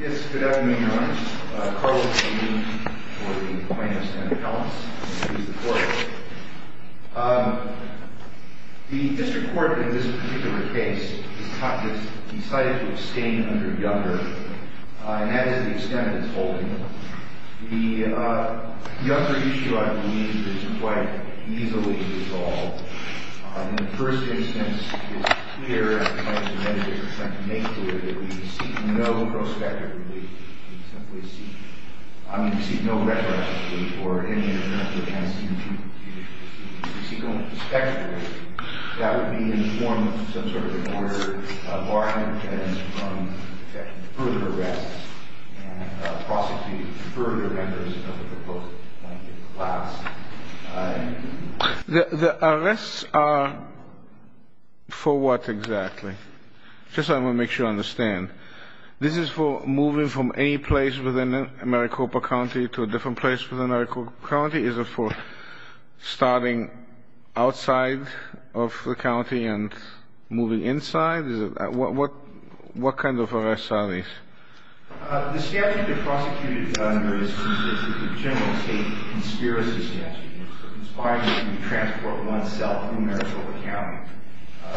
Yes, good afternoon, Your Honor. Carlos Salim for the plaintiffs and the counts, please report. The district court in this particular case has decided to abstain under younger, and that is the extent it's holding. The younger issue, I believe, is quite easily resolved. In the first instance, it's clear, as the medics are trying to make clear, that we've received no prospective relief. We've simply received – I mean, we've received no retroactive relief or any other kind of relief. We've received only prospective relief. That would be in the form of some sort of an order barring defendants from further arrests and prosecuting further members of the proposed plaintiff's class. The arrests are for what exactly? Just so I can make sure I understand. This is for moving from any place within Maricopa County to a different place within Maricopa County? Is it for starting outside of the county and moving inside? What kind of arrests are these? The statute they're prosecuting under is the general state conspiracy statute. It's requiring that you transport oneself through Maricopa County.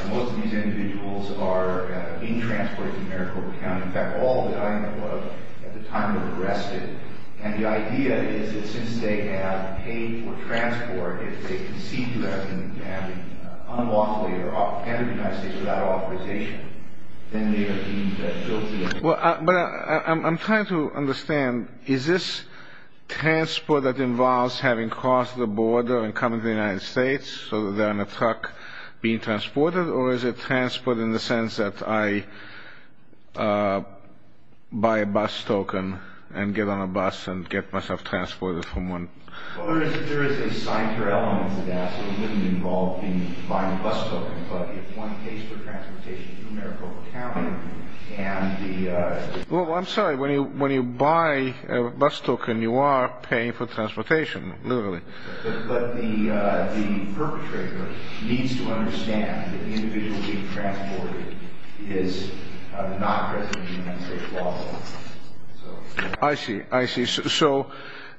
Most of these individuals are being transported through Maricopa County. In fact, all of them at the time of arresting. And the idea is that since they have paid for transport, if they concede to that and have been unlawfully or entered the United States without authorization, then they are deemed guilty. I'm trying to understand. Is this transport that involves having crossed the border and coming to the United States so that they're in a truck being transported? Or is it transport in the sense that I buy a bus token and get on a bus and get myself transported from one? Well, there is a sign for elements of that, so it wouldn't involve buying a bus token. But if one pays for transportation through Maricopa County and the... Well, I'm sorry, when you buy a bus token, you are paying for transportation, literally. But the perpetrator needs to understand that the individual being transported is not present in the United States law. I see, I see. So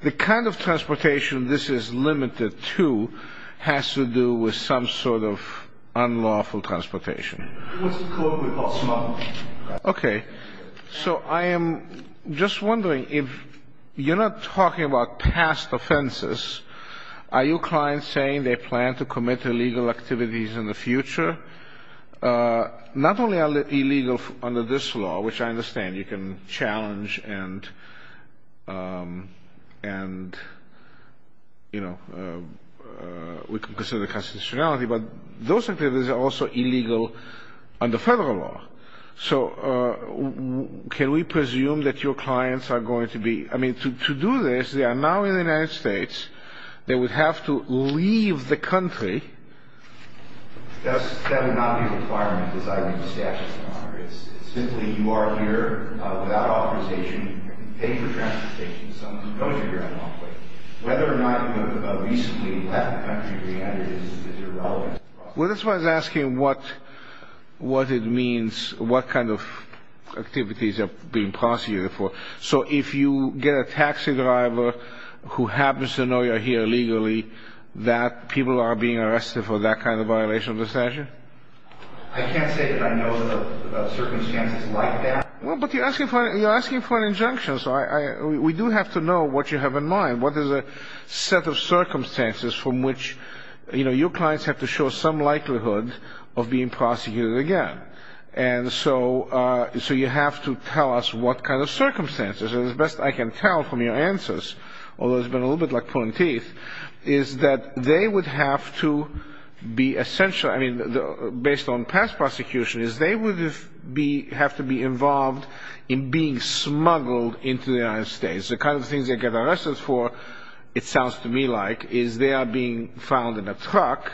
the kind of transportation this is limited to has to do with some sort of unlawful transportation. What's the code we call smuggling? Okay. So I am just wondering if you're not talking about past offenses. Are you clients saying they plan to commit illegal activities in the future? Not only are they illegal under this law, which I understand you can challenge and, you know, we can consider constitutionality, but those activities are also illegal under federal law. So can we presume that your clients are going to be... I mean, to do this, they are now in the United States. They would have to leave the country. That would not be a requirement, as I read the statute. It's simply you are here without authorization. You can pay for transportation. Whether or not you have recently left the country or re-entered it is irrelevant. Well, that's why I was asking what it means, what kind of activities are being prosecuted for. So if you get a taxi driver who happens to know you're here illegally, that people are being arrested for that kind of violation of the statute? I can't say that I know of circumstances like that. Well, but you're asking for an injunction, so we do have to know what you have in mind. What is a set of circumstances from which, you know, your clients have to show some likelihood of being prosecuted again? And so you have to tell us what kind of circumstances. As best I can tell from your answers, although it's been a little bit like pulling teeth, is that they would have to be essentially... I mean, based on past prosecutions, they would have to be involved in being smuggled into the United States. The kind of things they get arrested for, it sounds to me like, is they are being found in a truck,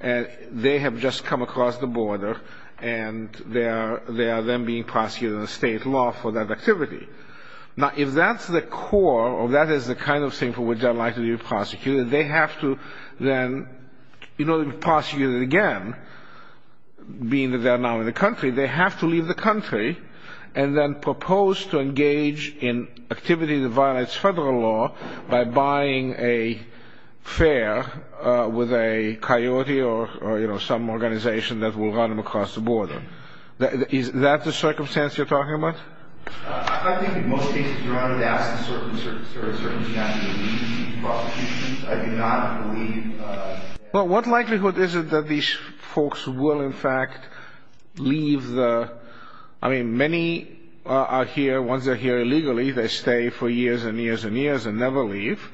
and they have just come across the border, and they are then being prosecuted under state law for that activity. Now, if that's the core, or that is the kind of thing from which they are likely to be prosecuted, they have to then, in order to be prosecuted again, being that they are now in the country, they have to leave the country and then propose to engage in activity that violates federal law by buying a fare with a coyote or, you know, some organization that will run them across the border. Is that the circumstance you're talking about? I think in most cases, Your Honor, that's the sort of circumstances in which they would be prosecuted. I do not believe... Well, what likelihood is it that these folks will, in fact, leave the... I mean, many are here, once they're here illegally, they stay for years and years and years and never leave,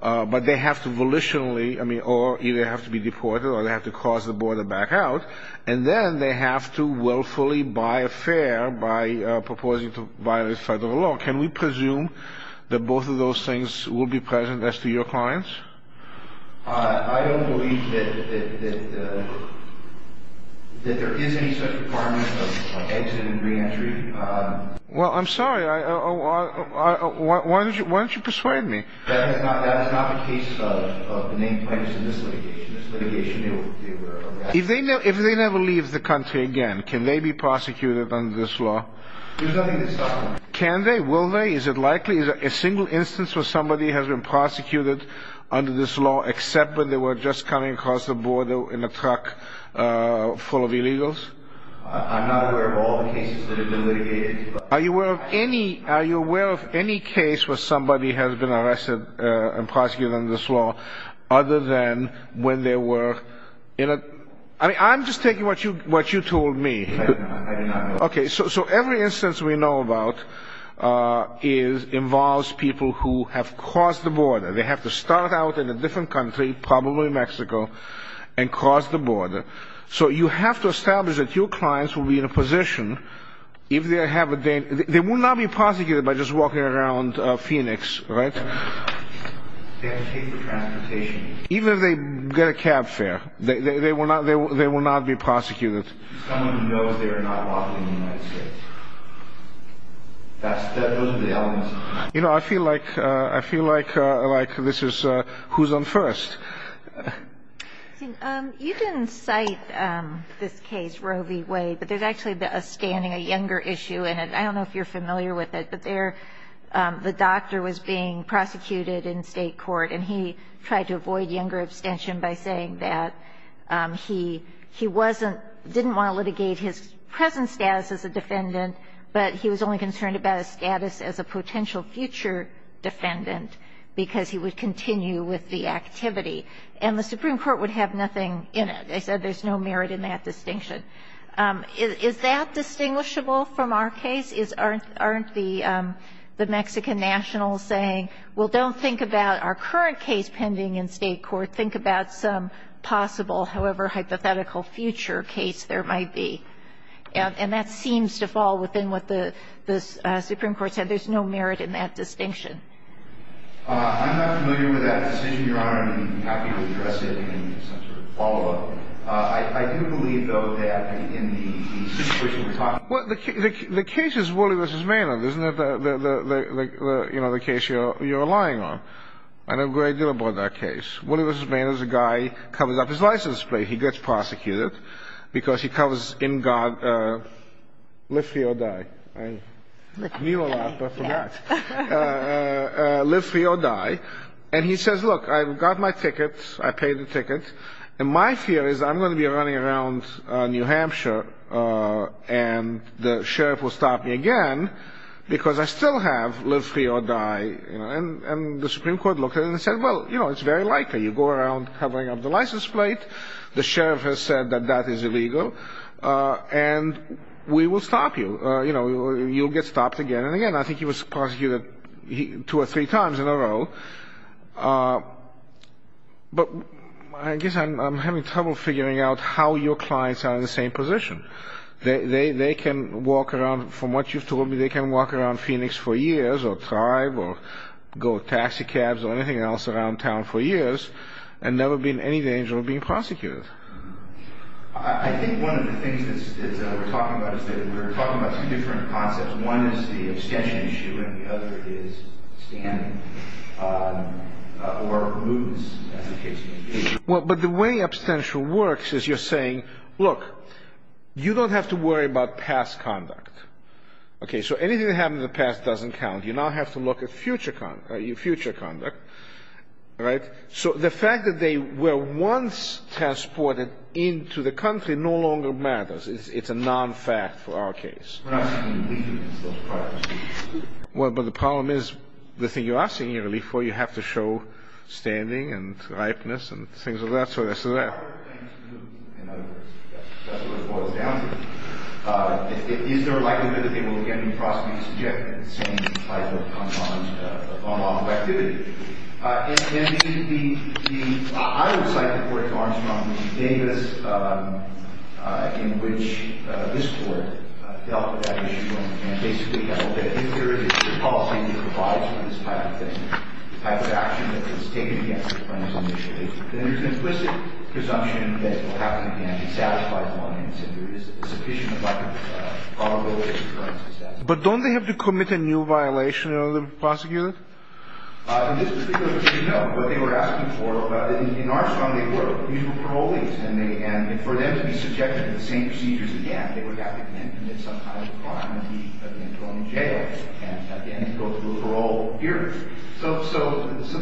but they have to volitionally, I mean, or either have to be deported or they have to cross the border back out, and then they have to willfully buy a fare by proposing to violate federal law. Can we presume that both of those things will be present as to your clients? I don't believe that there is any such requirement of exit and re-entry. Well, I'm sorry. Why don't you persuade me? That is not the case of the named criminals in this litigation. If they never leave the country again, can they be prosecuted under this law? There's nothing to stop them. Can they? Will they? Is it likely? Is there a single instance where somebody has been prosecuted under this law except when they were just coming across the border in a truck full of illegals? I'm not aware of all the cases that have been litigated. Are you aware of any case where somebody has been arrested and prosecuted under this law other than when they were in a... I mean, I'm just taking what you told me. I do not know. Okay, so every instance we know about involves people who have crossed the border. They have to start out in a different country, probably Mexico, and cross the border. So you have to establish that your clients will be in a position, if they have a... They will not be prosecuted by just walking around Phoenix, right? They have to take the transportation. Even if they get a cab fare, they will not be prosecuted. Someone who knows they are not walking the United States. Those are the elements. You know, I feel like this is who's on first. You didn't cite this case, Roe v. Wade, but there's actually a standing, a younger issue in it. I don't know if you're familiar with it, but there the doctor was being prosecuted in state court, and he tried to avoid younger abstention by saying that he wasn't, didn't want to litigate his present status as a defendant, but he was only concerned about his status as a potential future defendant because he would continue with the activity. And the Supreme Court would have nothing in it. They said there's no merit in that distinction. Is that distinguishable from our case? Aren't the Mexican nationals saying, well, don't think about our current case pending in state court. Think about some possible, however hypothetical future case there might be. And that seems to fall within what the Supreme Court said. There's no merit in that distinction. I'm not familiar with that distinction, Your Honor, and how people address it in some sort of follow-up. I do believe, though, that in the situation we're talking about... Well, the case is Wooley v. Maynard, isn't it? You know, the case you're relying on. I know a great deal about that case. Wooley v. Maynard is a guy who covers up his license plate. He gets prosecuted because he covers, in God, live free or die. I knew a lot, but I forgot. Live free or die. And he says, look, I've got my tickets. I paid the tickets. And my fear is I'm going to be running around New Hampshire, and the sheriff will stop me again because I still have live free or die. And the Supreme Court looked at it and said, well, you know, it's very likely. You go around covering up the license plate. The sheriff has said that that is illegal. And we will stop you. You know, you'll get stopped again and again. I think he was prosecuted two or three times in a row. But I guess I'm having trouble figuring out how your clients are in the same position. They can walk around, from what you've told me, they can walk around Phoenix for years or drive or go with taxi cabs or anything else around town for years and never be in any danger of being prosecuted. I think one of the things that we're talking about is that we're talking about two different concepts. One is the abstention issue and the other is standing or promotions, as the case may be. But the way abstention works is you're saying, look, you don't have to worry about past conduct. Okay, so anything that happened in the past doesn't count. You now have to look at future conduct. So the fact that they were once transported into the country no longer matters. It's a non-fact for our case. Well, but the problem is the thing you are seeking relief for, you have to show standing and likeness and things of that sort. So that's what it boils down to. Is there a likelihood that they will again be prosecuted subject to the same type of on-off activity? I would cite the report to Armstrong v. Davis in which this Court dealt with that issue and basically held that if there is a policy that provides for this type of thing, the type of action that is taken against the plaintiffs initially, then there's an implicit presumption that it will happen again. It satisfies the law, and it's a sufficient amount of vulnerability to forensic status. But don't they have to commit a new violation in order to be prosecuted? In this particular case, no. What they were asking for, in Armstrong they were. These were parolees, and for them to be subjected to the same procedures again, they would have to then commit some kind of crime and be thrown in jail, and at the end go through a parole period. So this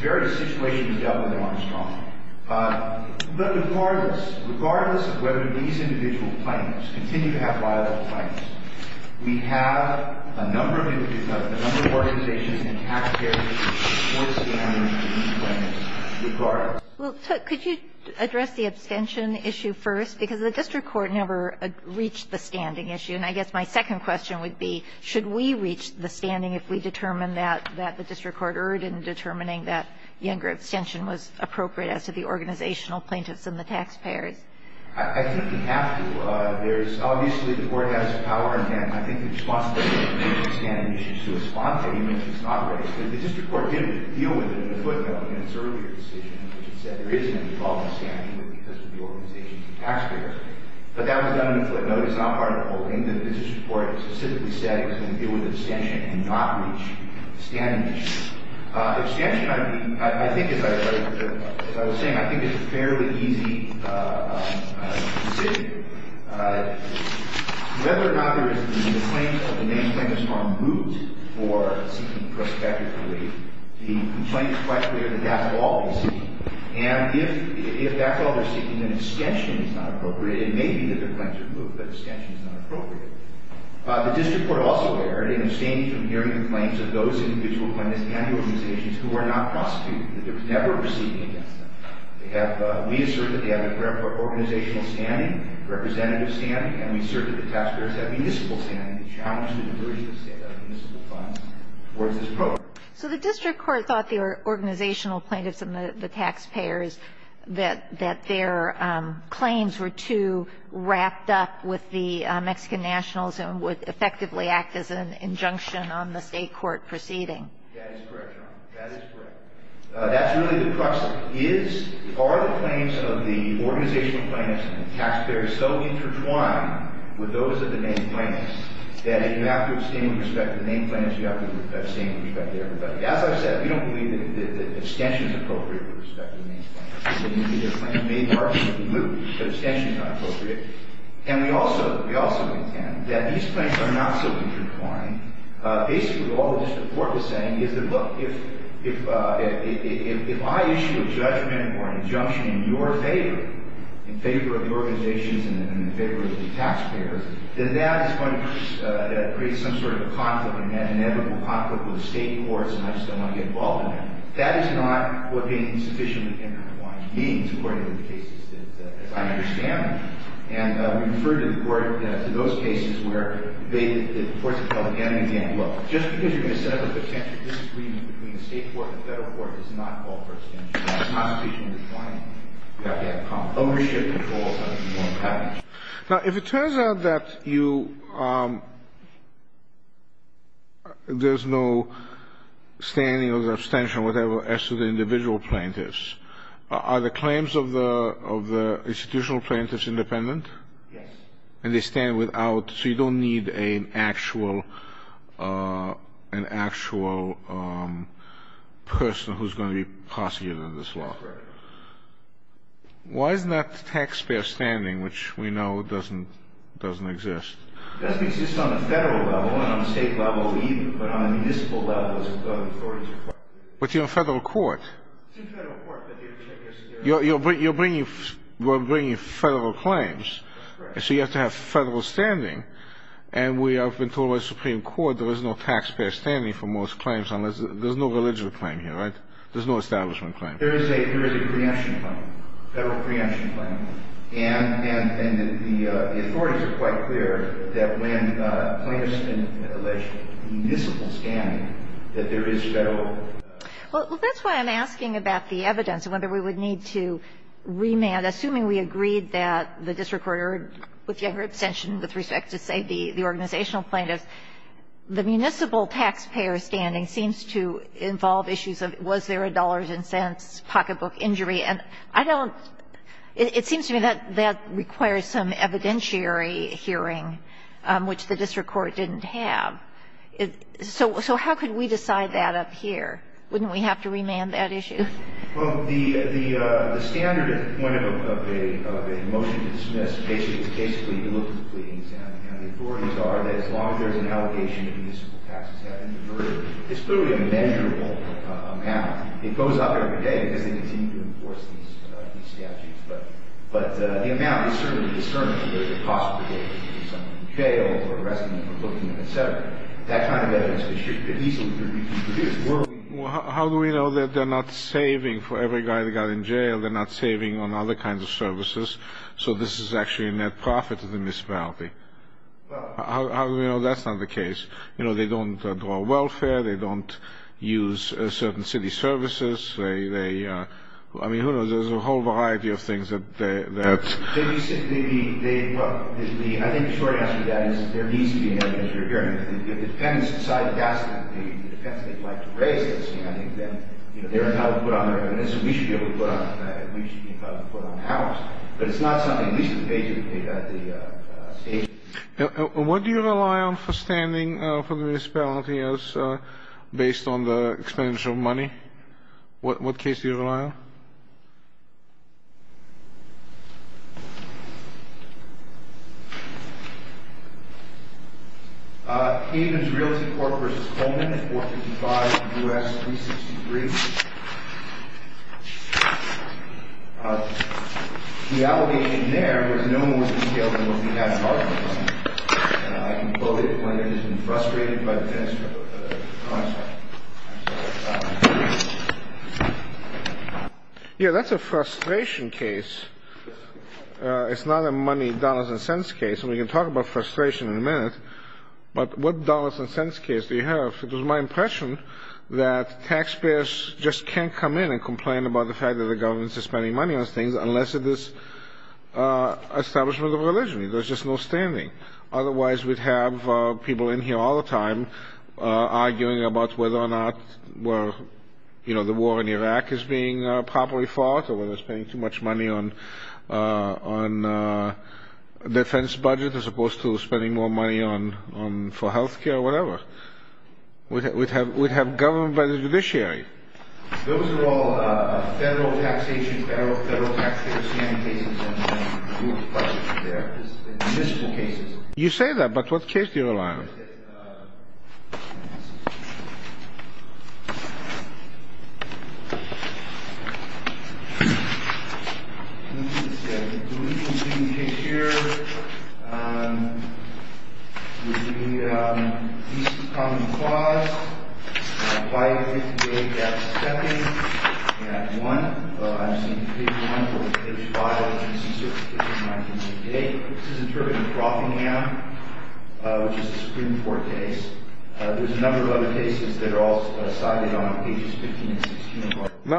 very situation was dealt with in Armstrong. But regardless of whether these individual plaintiffs continue to have violent claims, we have a number of organizations and taxpayers who support standing plaintiffs regardless. Well, could you address the abstention issue first? Because the district court never reached the standing issue, and I guess my second question would be, should we reach the standing if we determine that the district court erred in determining that younger abstention was appropriate as to the organizational plaintiffs and the taxpayers? I think we have to. Obviously, the court has power, and I think the responsibility is to reach the standing issue, to respond to it even if it's not right. The district court didn't deal with it in the footnote in its earlier decision, which said there is an involved abstention because of the organizations and taxpayers. But that was done in the footnote. It's not part of the holding. The district court specifically said it was going to deal with abstention and not reach the standing issue. Abstention, I think, as I was saying, I think is a fairly easy decision. Whether or not there is the claims of the main plaintiffs on moot for seeking prospective relief, the complaint is quite clear that that's all they're seeking. And if that's all they're seeking, then abstention is not appropriate. It may be that their claims are moot, but abstention is not appropriate. The district court also erred in abstaining from hearing the claims of those individual plaintiffs and the organizations who are not prosecuted, that they're never proceeding against them. We assert that they have a fair organizational standing, representative standing, and we assert that the taxpayers have municipal standing to challenge the diversion of municipal funds towards this program. So the district court thought the organizational plaintiffs and the taxpayers, that their claims were too wrapped up with the Mexican nationals and would effectively act as an injunction on the State court proceeding. That is correct, Your Honor. That is correct. That's really the question. Is or are the claims of the organizational plaintiffs and the taxpayers so intertwined with those of the main plaintiffs that if you have to abstain with respect to the main plaintiffs, you have to abstain with respect to everybody? As I've said, we don't believe that abstention is appropriate with respect to the main plaintiffs. It may be that their claims are moot, but abstention is not appropriate. And we also intend that these claims are not so intertwined. Basically, all the district court was saying is that, look, if I issue a judgment or an injunction in your favor, in favor of the organizations and in favor of the taxpayers, then that is going to create some sort of conflict, an inevitable conflict with the State courts, and I just don't want to get involved in that. That is not what being sufficiently intertwined means, according to the cases that I understand. And we refer to the court to those cases where the courts have held again and again, look, just because you're going to set up a potential disagreement between the State court and the Federal court does not call for abstention. That's not sufficiently defined. You have to have ownership controls under the foreign package. Now, if it turns out that you – there's no standing or abstention or whatever as to the individual plaintiffs, are the claims of the – of the institutional plaintiffs independent? Yes. And they stand without – so you don't need an actual – an actual person who's going to be prosecuting this law. That's right. Why isn't that taxpayer standing, which we know doesn't – doesn't exist? It doesn't exist on a Federal level, and on a State level either, but on a municipal level, as the authorities require. But you're a Federal court. It's a Federal court, but they – You're bringing – we're bringing Federal claims. That's right. And so you have to have Federal standing, and we have been told by the Supreme Court there is no taxpayer standing for most claims unless – there's no religious claim here, right? There's no establishment claim. There is a – there is a preemption claim, Federal preemption claim. And – and the authorities are quite clear that when plaintiffs – municipal standing, that there is Federal – Well, that's why I'm asking about the evidence and whether we would need to remand. Assuming we agreed that the district court ordered with younger abstention with respect to, say, the organizational plaintiffs, the municipal taxpayer standing seems to involve issues of was there a dollars and cents pocketbook injury. And I don't – it seems to me that that requires some evidentiary hearing, which the district court didn't have. So how could we decide that up here? Wouldn't we have to remand that issue? Well, the standard at the point of a motion to dismiss basically is basically you look at the pleadings, and the authorities are that as long as there's an allegation of municipal taxes having been murdered, it's clearly a measurable amount. It goes up every day because they continue to enforce these – these statutes. But – but the amount is certainly discernible. There's a cost per day for someone in jail or arrested for booking, et cetera. That kind of evidence could easily be reproduced. Well, how do we know that they're not saving for every guy that got in jail? They're not saving on other kinds of services. So this is actually a net profit to the municipality. Well – How do we know that's not the case? You know, they don't draw welfare. They don't use certain city services. They – they – I mean, who knows? There's a whole variety of things that – that – So you're saying they – they – well, the – I think the short answer to that is there needs to be an evidentiary hearing. It depends – it's not a gas lamp. It depends if they'd like to raise this. You know, I think that, you know, they're entitled to put on their evidence, and we should be able to put on – we should be entitled to put on ours. But it's not something – at least in the case of the state. What do you rely on for standing for the municipality as – based on the expenditure of money? What case do you rely on? Aiden's Realty Corp. vs. Coleman, 455 U.S. 363. The allegation there was no one was detailed in what we had in our department. I can quote it. My name has been frustrated by the tennis concept. I'm sorry. Yeah, that's a frustration case. It's not a money, dollars, and cents case. And we can talk about frustration in a minute. But what dollars and cents case do you have? It was my impression that taxpayers just can't come in and complain about the fact that the government is spending money on things unless it is establishment of religion. There's just no standing. Otherwise, we'd have people in here all the time arguing about whether or not the war in Iraq is being properly fought or whether they're spending too much money on defense budget as opposed to spending more money for health care or whatever. We'd have government by the judiciary. You say that, but what case do you rely on?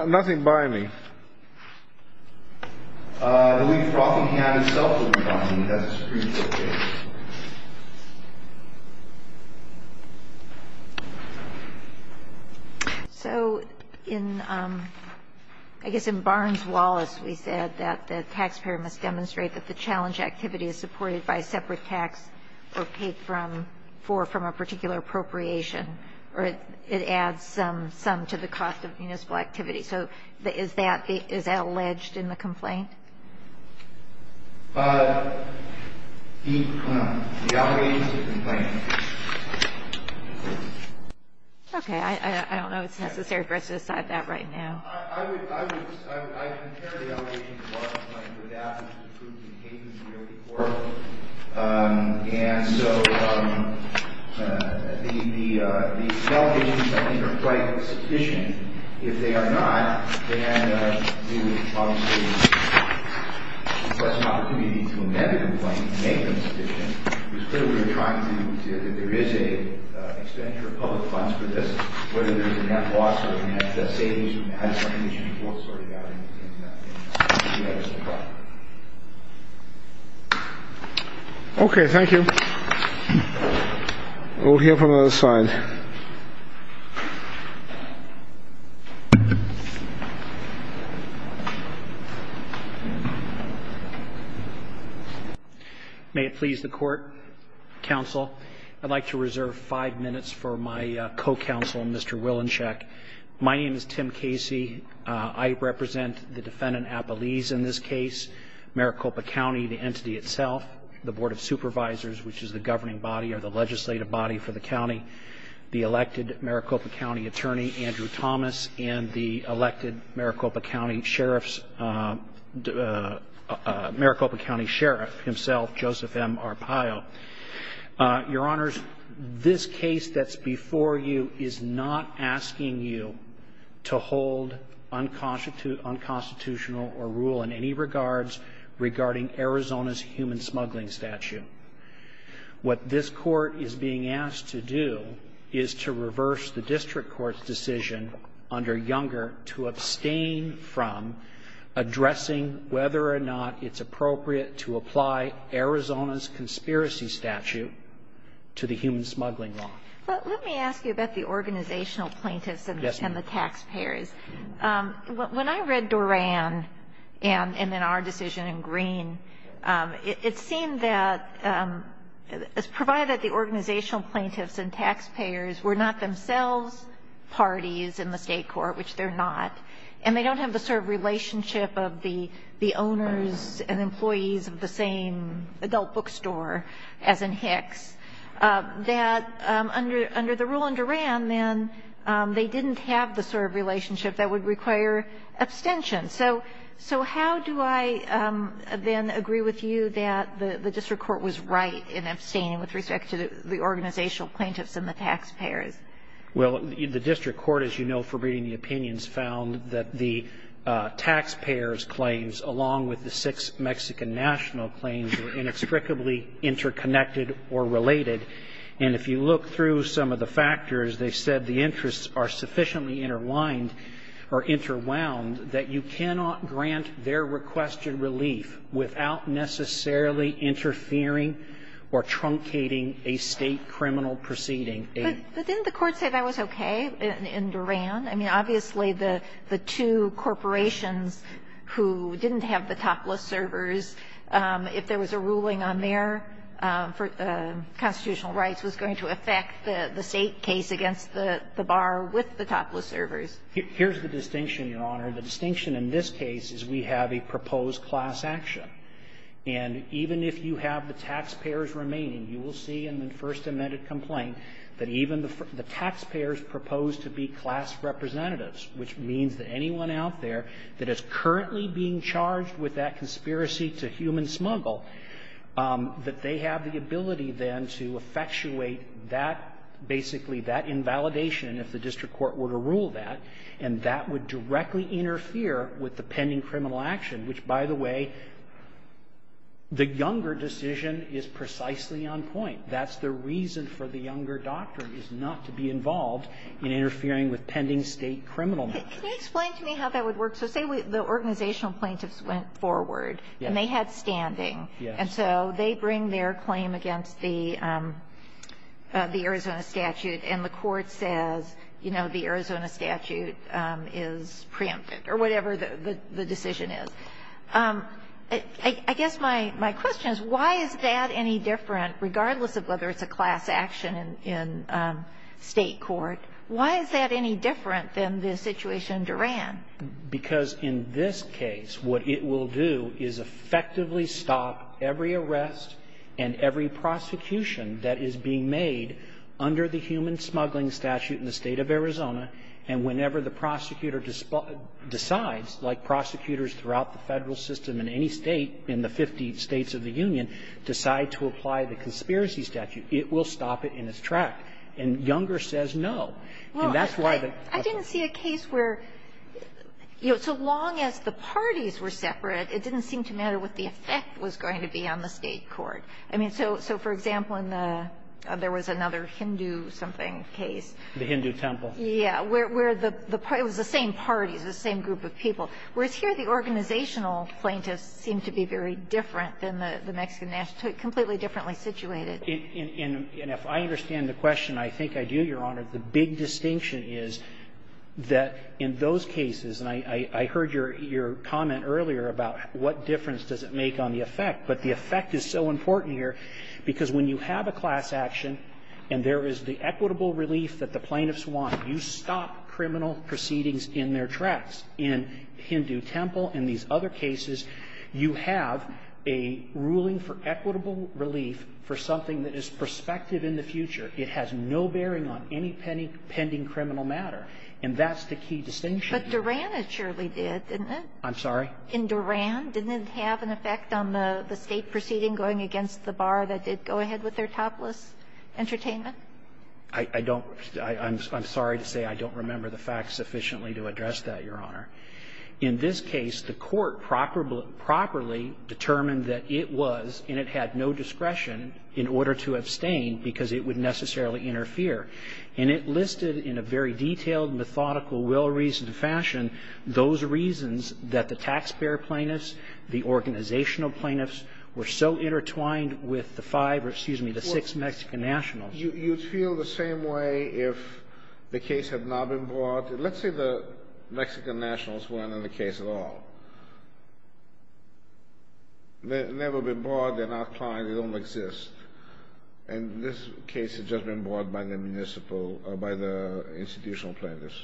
Nothing by me. I believe Brockingham himself would rely on me. So I guess in Barnes-Wallace we said that the taxpayer must demonstrate that the challenge activity is supported by a separate tax or paid for from a particular appropriation, or it adds some to the cost of municipal activity. So is that alleged in the complaint? The allegations of the complaint. Okay. I don't know if it's necessary for us to decide that right now. I would compare the allegations of our complaint with that of the truth and hate that's really horrible. And so the allegations, I think, are quite sufficient. If they are not, then we would obviously request an opportunity to amend the complaint and make them sufficient. It was clear we were trying to see that there is an expenditure of public funds for this, whether there is a net loss or a net savings. Okay, thank you. We'll hear from the other side. May it please the court, counsel. I'd like to reserve five minutes for my co-counsel, Mr. Wilenscheck. My name is Tim Casey. I represent the defendant, Appalese, in this case, Maricopa County, the entity itself, the Board of Supervisors, which is the governing body or the legislative body for the county, the elected Maricopa County attorney, Andrew Thomas, and the elected Maricopa County Sheriff himself, Joseph M. Arpaio. Your Honors, this case that's before you is not asking you to hold unconstitutional or rule in any regards regarding Arizona's human smuggling statute. What this court is being asked to do is to reverse the district court's decision under Younger to abstain from addressing whether or not it's appropriate to apply Arizona's conspiracy statute to the human smuggling law. But let me ask you about the organizational plaintiffs and the taxpayers. When I read Doran and then our decision in Green, it seemed that, provided that the organizational plaintiffs and taxpayers were not themselves parties in the state court, which they're not, and they don't have the sort of relationship of the owners and employees of the same adult bookstore as in Hicks, that under the rule in Doran then they didn't have the sort of relationship that would require abstention. So how do I then agree with you that the district court was right in abstaining with respect to the organizational plaintiffs and the taxpayers? Well, the district court, as you know from reading the opinions, found that the taxpayers' claims, along with the six Mexican national claims, were inextricably interconnected or related. And if you look through some of the factors, they said the interests are sufficiently intertwined or interwound that you cannot grant their requested relief without necessarily interfering or truncating a state criminal proceeding. But didn't the court say that was okay in Doran? I mean, obviously the two corporations who didn't have the topless servers, if there was a ruling on their constitutional rights, was going to affect the state case against the bar with the topless servers. Here's the distinction, Your Honor. The distinction in this case is we have a proposed class action. And even if you have the taxpayers remaining, you will see in the first amended complaint that even the taxpayers proposed to be class representatives, which means that anyone out there that is currently being charged with that conspiracy to human smuggle, that they have the ability then to effectuate that, basically, that invalidation if the district court were to rule that. And that would directly interfere with the pending criminal action, which, by the way, the Younger decision is precisely on point. That's the reason for the Younger doctrine is not to be involved in interfering with pending state criminal matters. Can you explain to me how that would work? So say the organizational plaintiffs went forward. Yes. And they had standing. Yes. And so they bring their claim against the Arizona statute, and the court says, you know, the Arizona statute is preempted, or whatever the decision is. I guess my question is, why is that any different, regardless of whether it's a class action in State court, why is that any different than the situation in Duran? Because in this case, what it will do is effectively stop every arrest and every prosecution that is being made under the human smuggling statute in the State of Arizona, and whenever the prosecutor decides, like prosecutors throughout the Federal system in any State, in the 50 States of the Union, decide to apply the conspiracy statute, it will stop it in its track. And Younger says no. And that's why the question is different. Well, I didn't see a case where, you know, so long as the parties were separate, it didn't seem to matter what the effect was going to be on the State court. I mean, so for example, in the other was another Hindu-something case. The Hindu temple. Yeah, where the parties, the same parties, the same group of people. Whereas here, the organizational plaintiffs seem to be very different than the Mexican nationality, completely differently situated. And if I understand the question, I think I do, Your Honor. The big distinction is that in those cases, and I heard your comment earlier about what difference does it make on the effect, but the effect is so important here, because when you have a class action and there is the equitable relief that the plaintiffs want, you stop criminal proceedings in their tracks. In Hindu temple, in these other cases, you have a ruling for equitable relief for something that is prospective in the future. It has no bearing on any pending criminal matter. And that's the key distinction. But Duran, it surely did, didn't it? I'm sorry? In Duran, didn't it have an effect on the State proceeding going against the bar that did go ahead with their topless entertainment? I don't – I'm sorry to say I don't remember the facts sufficiently to address that, Your Honor. In this case, the court properly determined that it was, and it had no discretion in order to abstain because it would necessarily interfere. And it listed in a very detailed, methodical, well-reasoned fashion those reasons that the taxpayer plaintiffs, the organizational plaintiffs were so intertwined with the five or, excuse me, the six Mexican nationals. You'd feel the same way if the case had not been brought. Let's say the Mexican nationals weren't in the case at all. They've never been brought, they're not client, they don't exist. And this case has just been brought by the municipal – by the institutional plaintiffs.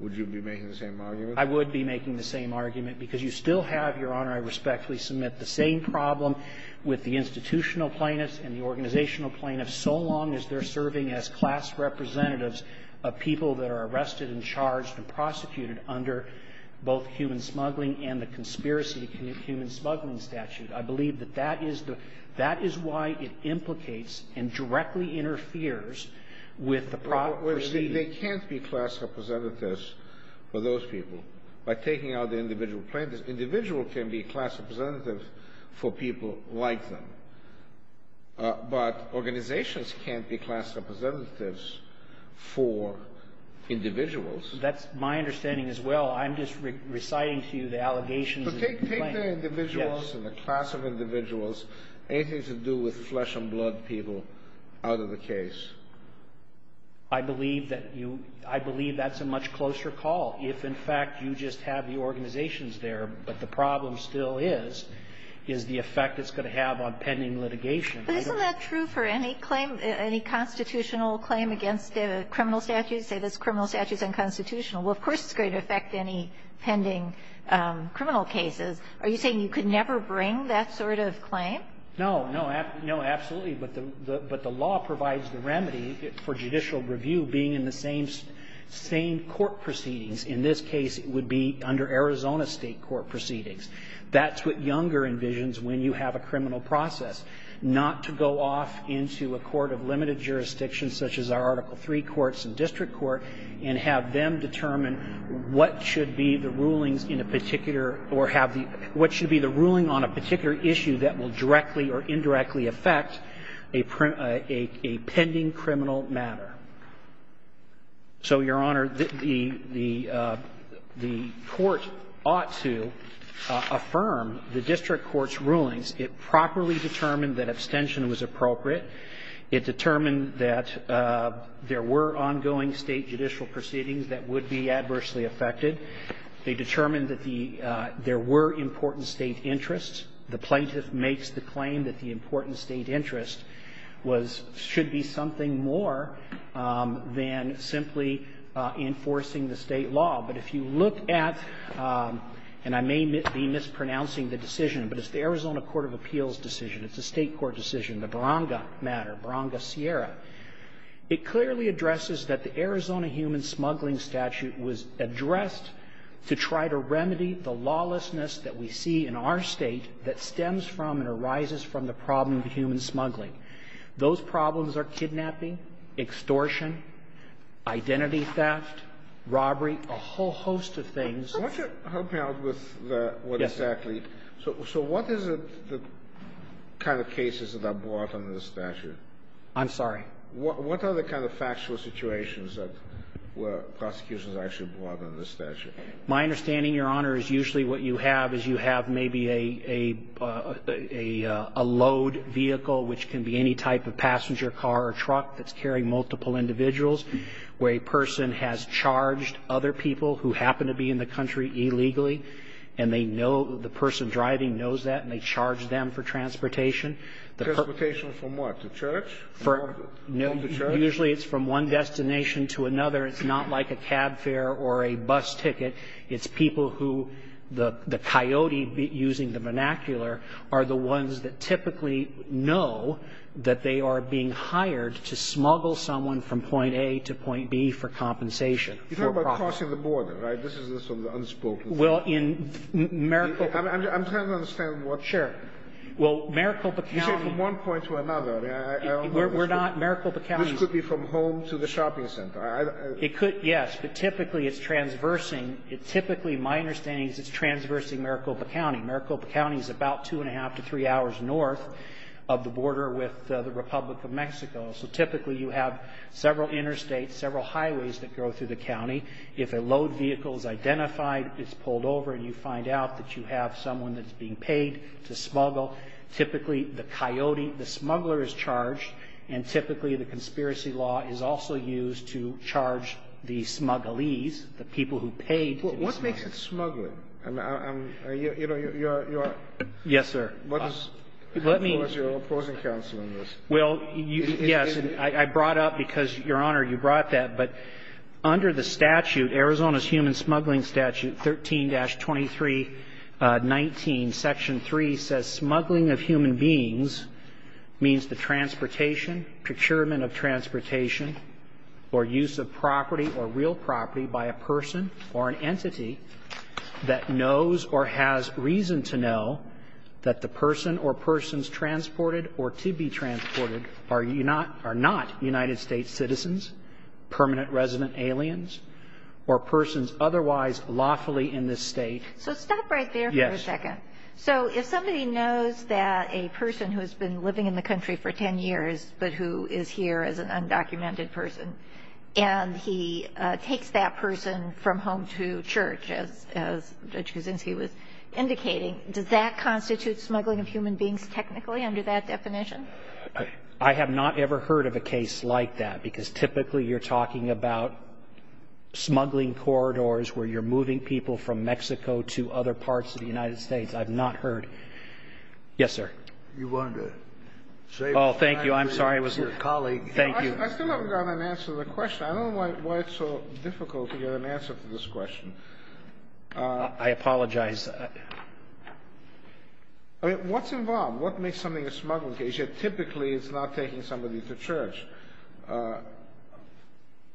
Would you be making the same argument? I would be making the same argument because you still have, Your Honor, I respectfully submit, the same problem with the institutional plaintiffs and the organizational plaintiffs, so long as they're serving as class representatives of people that are arrested and charged and prosecuted under both human smuggling and the conspiracy to commit human smuggling statute. I believe that that is the – that is why it implicates and directly interferes with the proceeding. They can't be class representatives for those people. By taking out the individual plaintiffs, individual can be class representative for people like them. But organizations can't be class representatives for individuals. That's my understanding as well. I'm just reciting to you the allegations of the plaintiffs. So take the individuals and the class of individuals. Anything to do with flesh-and-blood people out of the case? I believe that you – I believe that's a much closer call. If, in fact, you just have the organizations there, but the problem still is, is the effect it's going to have on pending litigation. But isn't that true for any claim – any constitutional claim against a criminal statute? Say there's criminal statutes unconstitutional. Well, of course it's going to affect any pending criminal cases. Are you saying you could never bring that sort of claim? No. No, absolutely. But the law provides the remedy for judicial review being in the same court proceedings. In this case, it would be under Arizona state court proceedings. That's what Younger envisions when you have a criminal process. Not to go off into a court of limited jurisdiction, such as our Article III courts and district court, and have them determine what should be the rulings in a particular or have the – what should be the ruling on a particular issue that will directly or indirectly affect a pending criminal matter. So, Your Honor, the court ought to affirm the district court's rulings. It properly determined that abstention was appropriate. It determined that there were ongoing state judicial proceedings that would be adversely affected. They determined that the – there were important state interests. The plaintiff makes the claim that the important state interest was – should be something more than simply enforcing the state law. But if you look at – and I may be mispronouncing the decision, but it's the Arizona Court of Appeals decision. It's a state court decision, the Baronga matter, Baronga-Sierra. It clearly addresses that the Arizona Human Smuggling Statute was addressed to try to remedy the lawlessness that we see in our State that stems from and arises from the problem of human smuggling. Those problems are kidnapping, extortion, identity theft, robbery, a whole host of things. So what's your – help me out with what exactly – so what is the kind of cases that are brought under the statute? I'm sorry? What are the kind of factual situations that were – prosecutions actually brought under the statute? My understanding, Your Honor, is usually what you have is you have maybe a load vehicle, which can be any type of passenger car or truck that's carrying multiple individuals, where a person has charged other people who happen to be in the country illegally, and they know – the person driving knows that, and they charge them for transportation. Transportation from what, the church? No, usually it's from one destination to another. It's not like a cab fare or a bus ticket. It's people who the coyote, using the vernacular, are the ones that typically know that they are being hired to smuggle someone from point A to point B for compensation. You're talking about crossing the border, right? This is sort of the unspoken thing. Well, in Maricopa – I'm trying to understand what – Sure. Well, Maricopa County – You said from one point to another. I don't know – We're not – Maricopa County – This could be from home to the shopping center. It could, yes, but typically it's transversing. Typically, my understanding is it's transversing Maricopa County. Maricopa County is about two and a half to three hours north of the border with the Republic of Mexico, so typically you have several interstates, several highways that go through the county. If a load vehicle is identified, it's pulled over and you find out that you have someone that's being paid to smuggle. Typically, the coyote, the smuggler is charged, and typically the conspiracy law is also used to charge the smugglees, the people who paid to be smuggled. What makes it smuggling? I mean, I'm – you know, you are – Yes, sir. What is – Let me – Who is your opposing counsel in this? Well, you – yes, I brought up, because, Your Honor, you brought that, but under the statute, Arizona's Human Smuggling Statute 13-2319, Section 3, says smuggling of human beings means the transportation, procurement of transportation, or use of property or real property by a person or an entity that knows or has reason to know that the person or persons transported or to be transported are not United States citizens, permanent resident aliens, or persons otherwise lawfully in this state. So stop right there for a second. Yes. So if somebody knows that a person who has been living in the country for 10 years but who is here as an undocumented person and he takes that person from home to church, as Judge Kuczynski was indicating, does that constitute smuggling of human beings technically under that definition? I have not ever heard of a case like that, because typically you're talking about smuggling corridors where you're moving people from Mexico to other parts of the United States. I've not heard. Yes, sir. You wanted to say something. Oh, thank you. I'm sorry. It was your colleague. Thank you. I still haven't gotten an answer to the question. I don't know why it's so difficult to get an answer to this question. I apologize. I mean, what's involved? What makes something a smuggling case if typically it's not taking somebody to church?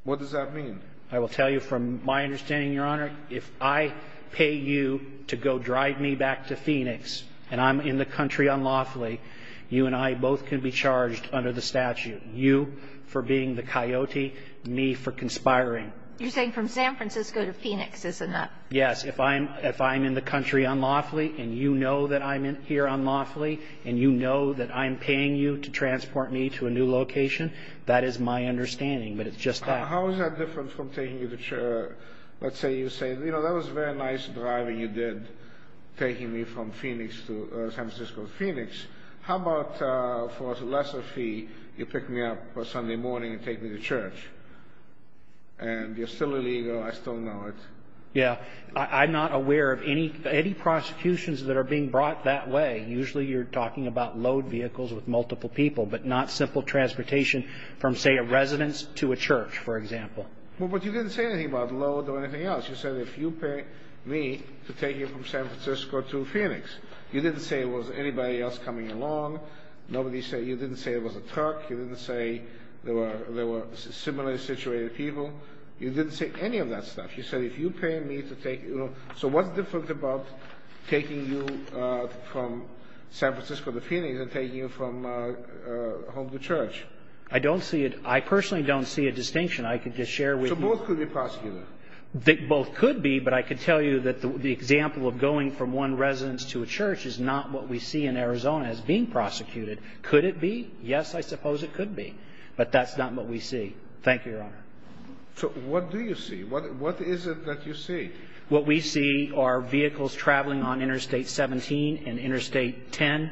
What does that mean? I will tell you from my understanding, Your Honor, if I pay you to go drive me back to Phoenix and I'm in the country unlawfully, you and I both can be charged under the statute, you for being the coyote, me for conspiring. You're saying from San Francisco to Phoenix, isn't that? Yes. If I'm in the country unlawfully and you know that I'm here unlawfully and you know that I'm paying you to transport me to a new location, that is my understanding. But it's just that. How is that different from taking you to church? Let's say you say, you know, that was very nice driving you did, taking me from Phoenix to San Francisco to Phoenix. How about for a lesser fee, you pick me up Sunday morning and take me to church? And you're still illegal. I still know it. Yeah. I'm not aware of any prosecutions that are being brought that way. Usually you're talking about load vehicles with multiple people, but not simple transportation from, say, a residence to a church, for example. But you didn't say anything about load or anything else. You said if you pay me to take you from San Francisco to Phoenix. You didn't say it was anybody else coming along. You didn't say it was a truck. You didn't say there were similarly situated people. You didn't say any of that stuff. You said if you pay me to take you. So what's different about taking you from San Francisco to Phoenix and taking you from home to church? I don't see it. I personally don't see a distinction. I could just share with you. So both could be prosecuted. Both could be, but I could tell you that the example of going from one residence to a church is not what we see in Arizona as being prosecuted. Could it be? Yes, I suppose it could be. But that's not what we see. Thank you, Your Honor. So what do you see? What is it that you see? What we see are vehicles traveling on Interstate 17 and Interstate 10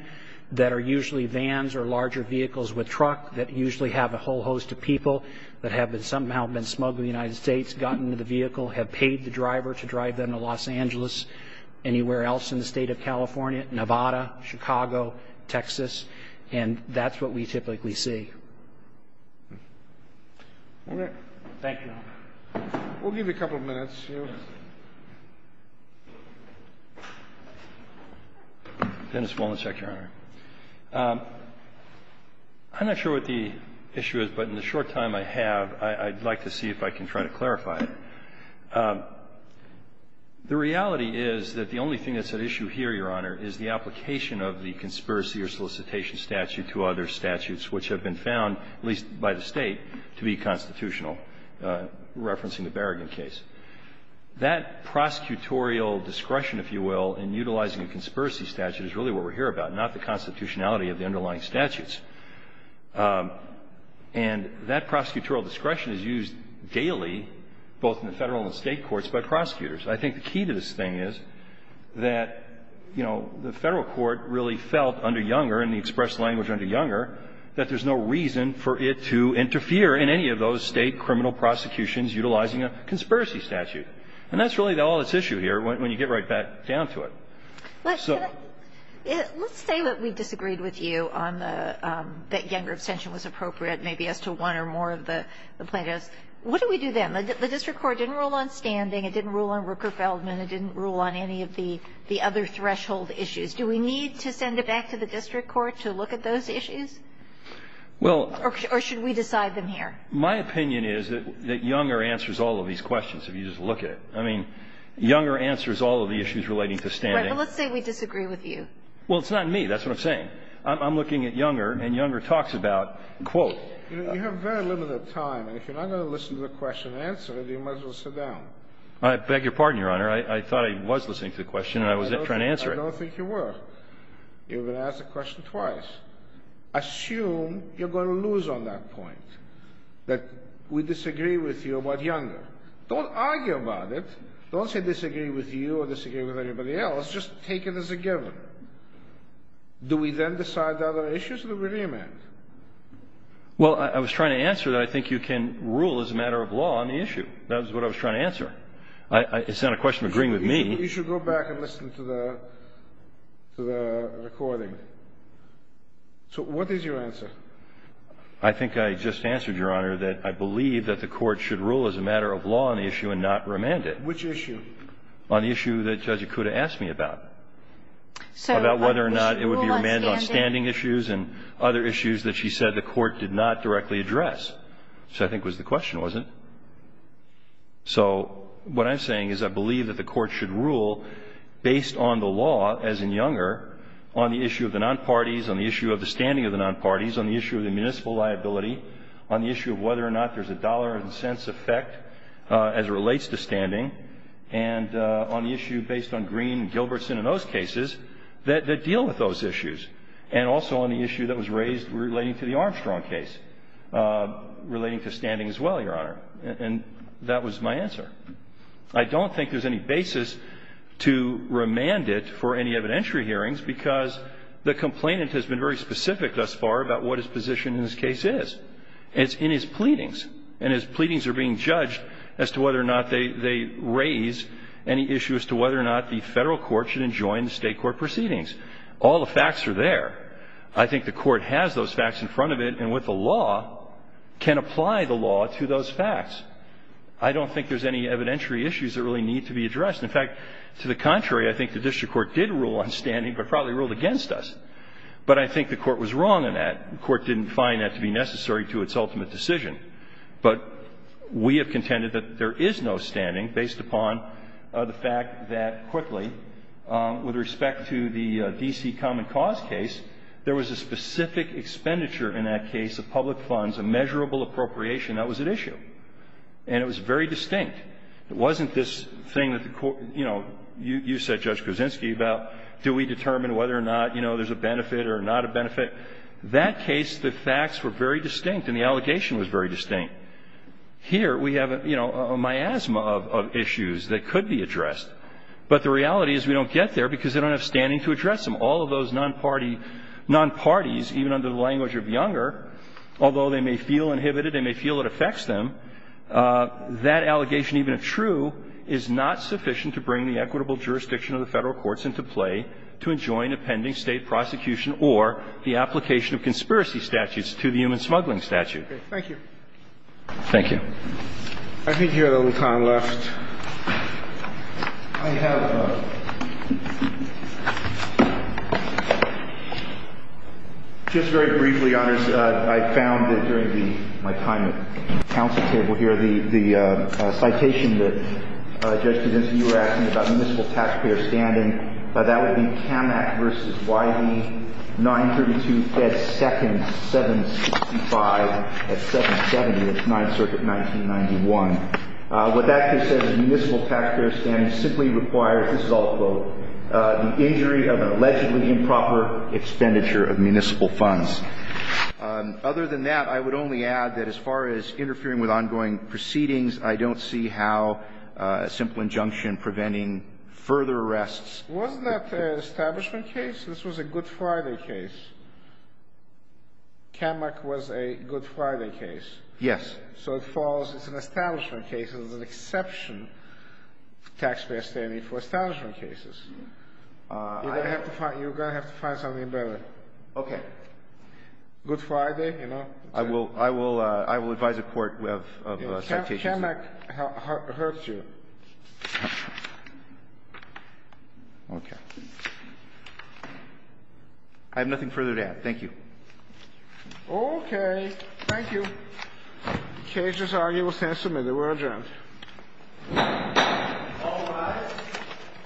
that are usually vans or larger vehicles with truck that usually have a whole host of people that have somehow been smuggled in the United States, gotten into the vehicle, have paid the driver to drive them to Los Angeles, anywhere else in the state of California, Nevada, Chicago, Texas, and that's what we typically see. Okay. Thank you, Your Honor. We'll give you a couple of minutes. Dennis Wolnicek, Your Honor. I'm not sure what the issue is, but in the short time I have, I'd like to see if I can try to clarify it. The reality is that the only thing that's at issue here, Your Honor, is the application of the conspiracy or solicitation statute to other statutes which have been found, at least by the State, to be constitutional, referencing the Berrigan case. That prosecutorial discretion, if you will, in utilizing a conspiracy statute is really what we're here about, not the constitutionality of the underlying statutes. And that prosecutorial discretion is used daily, both in the Federal and State courts, by prosecutors. I think the key to this thing is that, you know, the Federal court really felt under Younger that there's no reason for it to interfere in any of those State criminal prosecutions utilizing a conspiracy statute. And that's really all that's at issue here when you get right back down to it. So. Let's say that we disagreed with you on the — that Younger abstention was appropriate maybe as to one or more of the plaintiffs. What do we do then? The district court didn't rule on standing. It didn't rule on Rooker-Feldman. It didn't rule on any of the other threshold issues. Do we need to send it back to the district court to look at those issues? Well. Or should we decide them here? My opinion is that Younger answers all of these questions if you just look at it. I mean, Younger answers all of the issues relating to standing. Right. But let's say we disagree with you. Well, it's not me. That's what I'm saying. I'm looking at Younger, and Younger talks about, quote. You have very limited time, and if you're not going to listen to the question and answer it, you might as well sit down. I beg your pardon, Your Honor. I thought I was listening to the question and I was trying to answer it. I don't think you were. You were going to ask the question twice. Assume you're going to lose on that point, that we disagree with you about Younger. Don't argue about it. Don't say disagree with you or disagree with anybody else. Just take it as a given. Do we then decide the other issues or do we re-amend? Well, I was trying to answer that I think you can rule as a matter of law on the issue. That was what I was trying to answer. It's not a question of agreeing with me. You should go back and listen to the recording. So what is your answer? I think I just answered, Your Honor, that I believe that the Court should rule as a matter of law on the issue and not re-amend it. Which issue? On the issue that Judge Ikuda asked me about, about whether or not it would be re-amend on standing issues and other issues that she said the Court did not directly address, which I think was the question, wasn't it? So what I'm saying is I believe that the Court should rule based on the law, as in Younger, on the issue of the non-parties, on the issue of the standing of the non-parties, on the issue of the municipal liability, on the issue of whether or not there's a dollar and cents effect as it relates to standing, and on the issue based on Green and Gilbertson and those cases that deal with those issues, and also on the issue that was raised relating to the Armstrong case, relating to standing as well, Your Honor. And that was my answer. I don't think there's any basis to remand it for any evidentiary hearings because the complainant has been very specific thus far about what his position in this case is. It's in his pleadings. And his pleadings are being judged as to whether or not they raise any issue as to whether or not the Federal court should enjoin the State court proceedings. All the facts are there. I think the Court has those facts in front of it and, with the law, can apply the law to those facts. I don't think there's any evidentiary issues that really need to be addressed. In fact, to the contrary, I think the district court did rule on standing, but probably ruled against us. But I think the Court was wrong in that. The Court didn't find that to be necessary to its ultimate decision. But we have contended that there is no standing based upon the fact that, quickly, with respect to the D.C. Common Cause case, there was a specific expenditure in that case of public funds, a measurable appropriation that was at issue. And it was very distinct. It wasn't this thing that the Court – you know, you said, Judge Kuczynski, about do we determine whether or not, you know, there's a benefit or not a benefit. That case, the facts were very distinct and the allegation was very distinct. Here we have, you know, a miasma of issues that could be addressed. But the reality is we don't get there because they don't have standing to address them. All of those non-parties, even under the language of Younger, although they may feel inhibited, they may feel it affects them, that allegation, even if true, is not sufficient to bring the equitable jurisdiction of the Federal courts into play to enjoin a pending State prosecution or the application of conspiracy statutes to the human smuggling statute. Thank you. Thank you. I think you have a little time left. I have a – just very briefly, Your Honors. I found that during the – my time at the counsel table here, the citation that Judge Kuczynski, you were asking about municipal taxpayer standing, that would be CAMAC v. YV, 932, Fed. 2nd, 765 at 770, 9th Circuit, 1991. What that case says is municipal taxpayer standing simply requires, this is all a quote, the injury of an allegedly improper expenditure of municipal funds. Other than that, I would only add that as far as interfering with ongoing proceedings, I don't see how a simple injunction preventing further arrests. Wasn't that an establishment case? This was a Good Friday case. CAMAC was a Good Friday case. Yes. So it follows it's an establishment case. It was an exception, taxpayer standing for establishment cases. You're going to have to find something better. Okay. Good Friday, you know. I will advise a court of citations. CAMAC hurts you. Okay. I have nothing further to add. Thank you. Okay. Thank you. The case is arguably submitted. We're adjourned. All rise.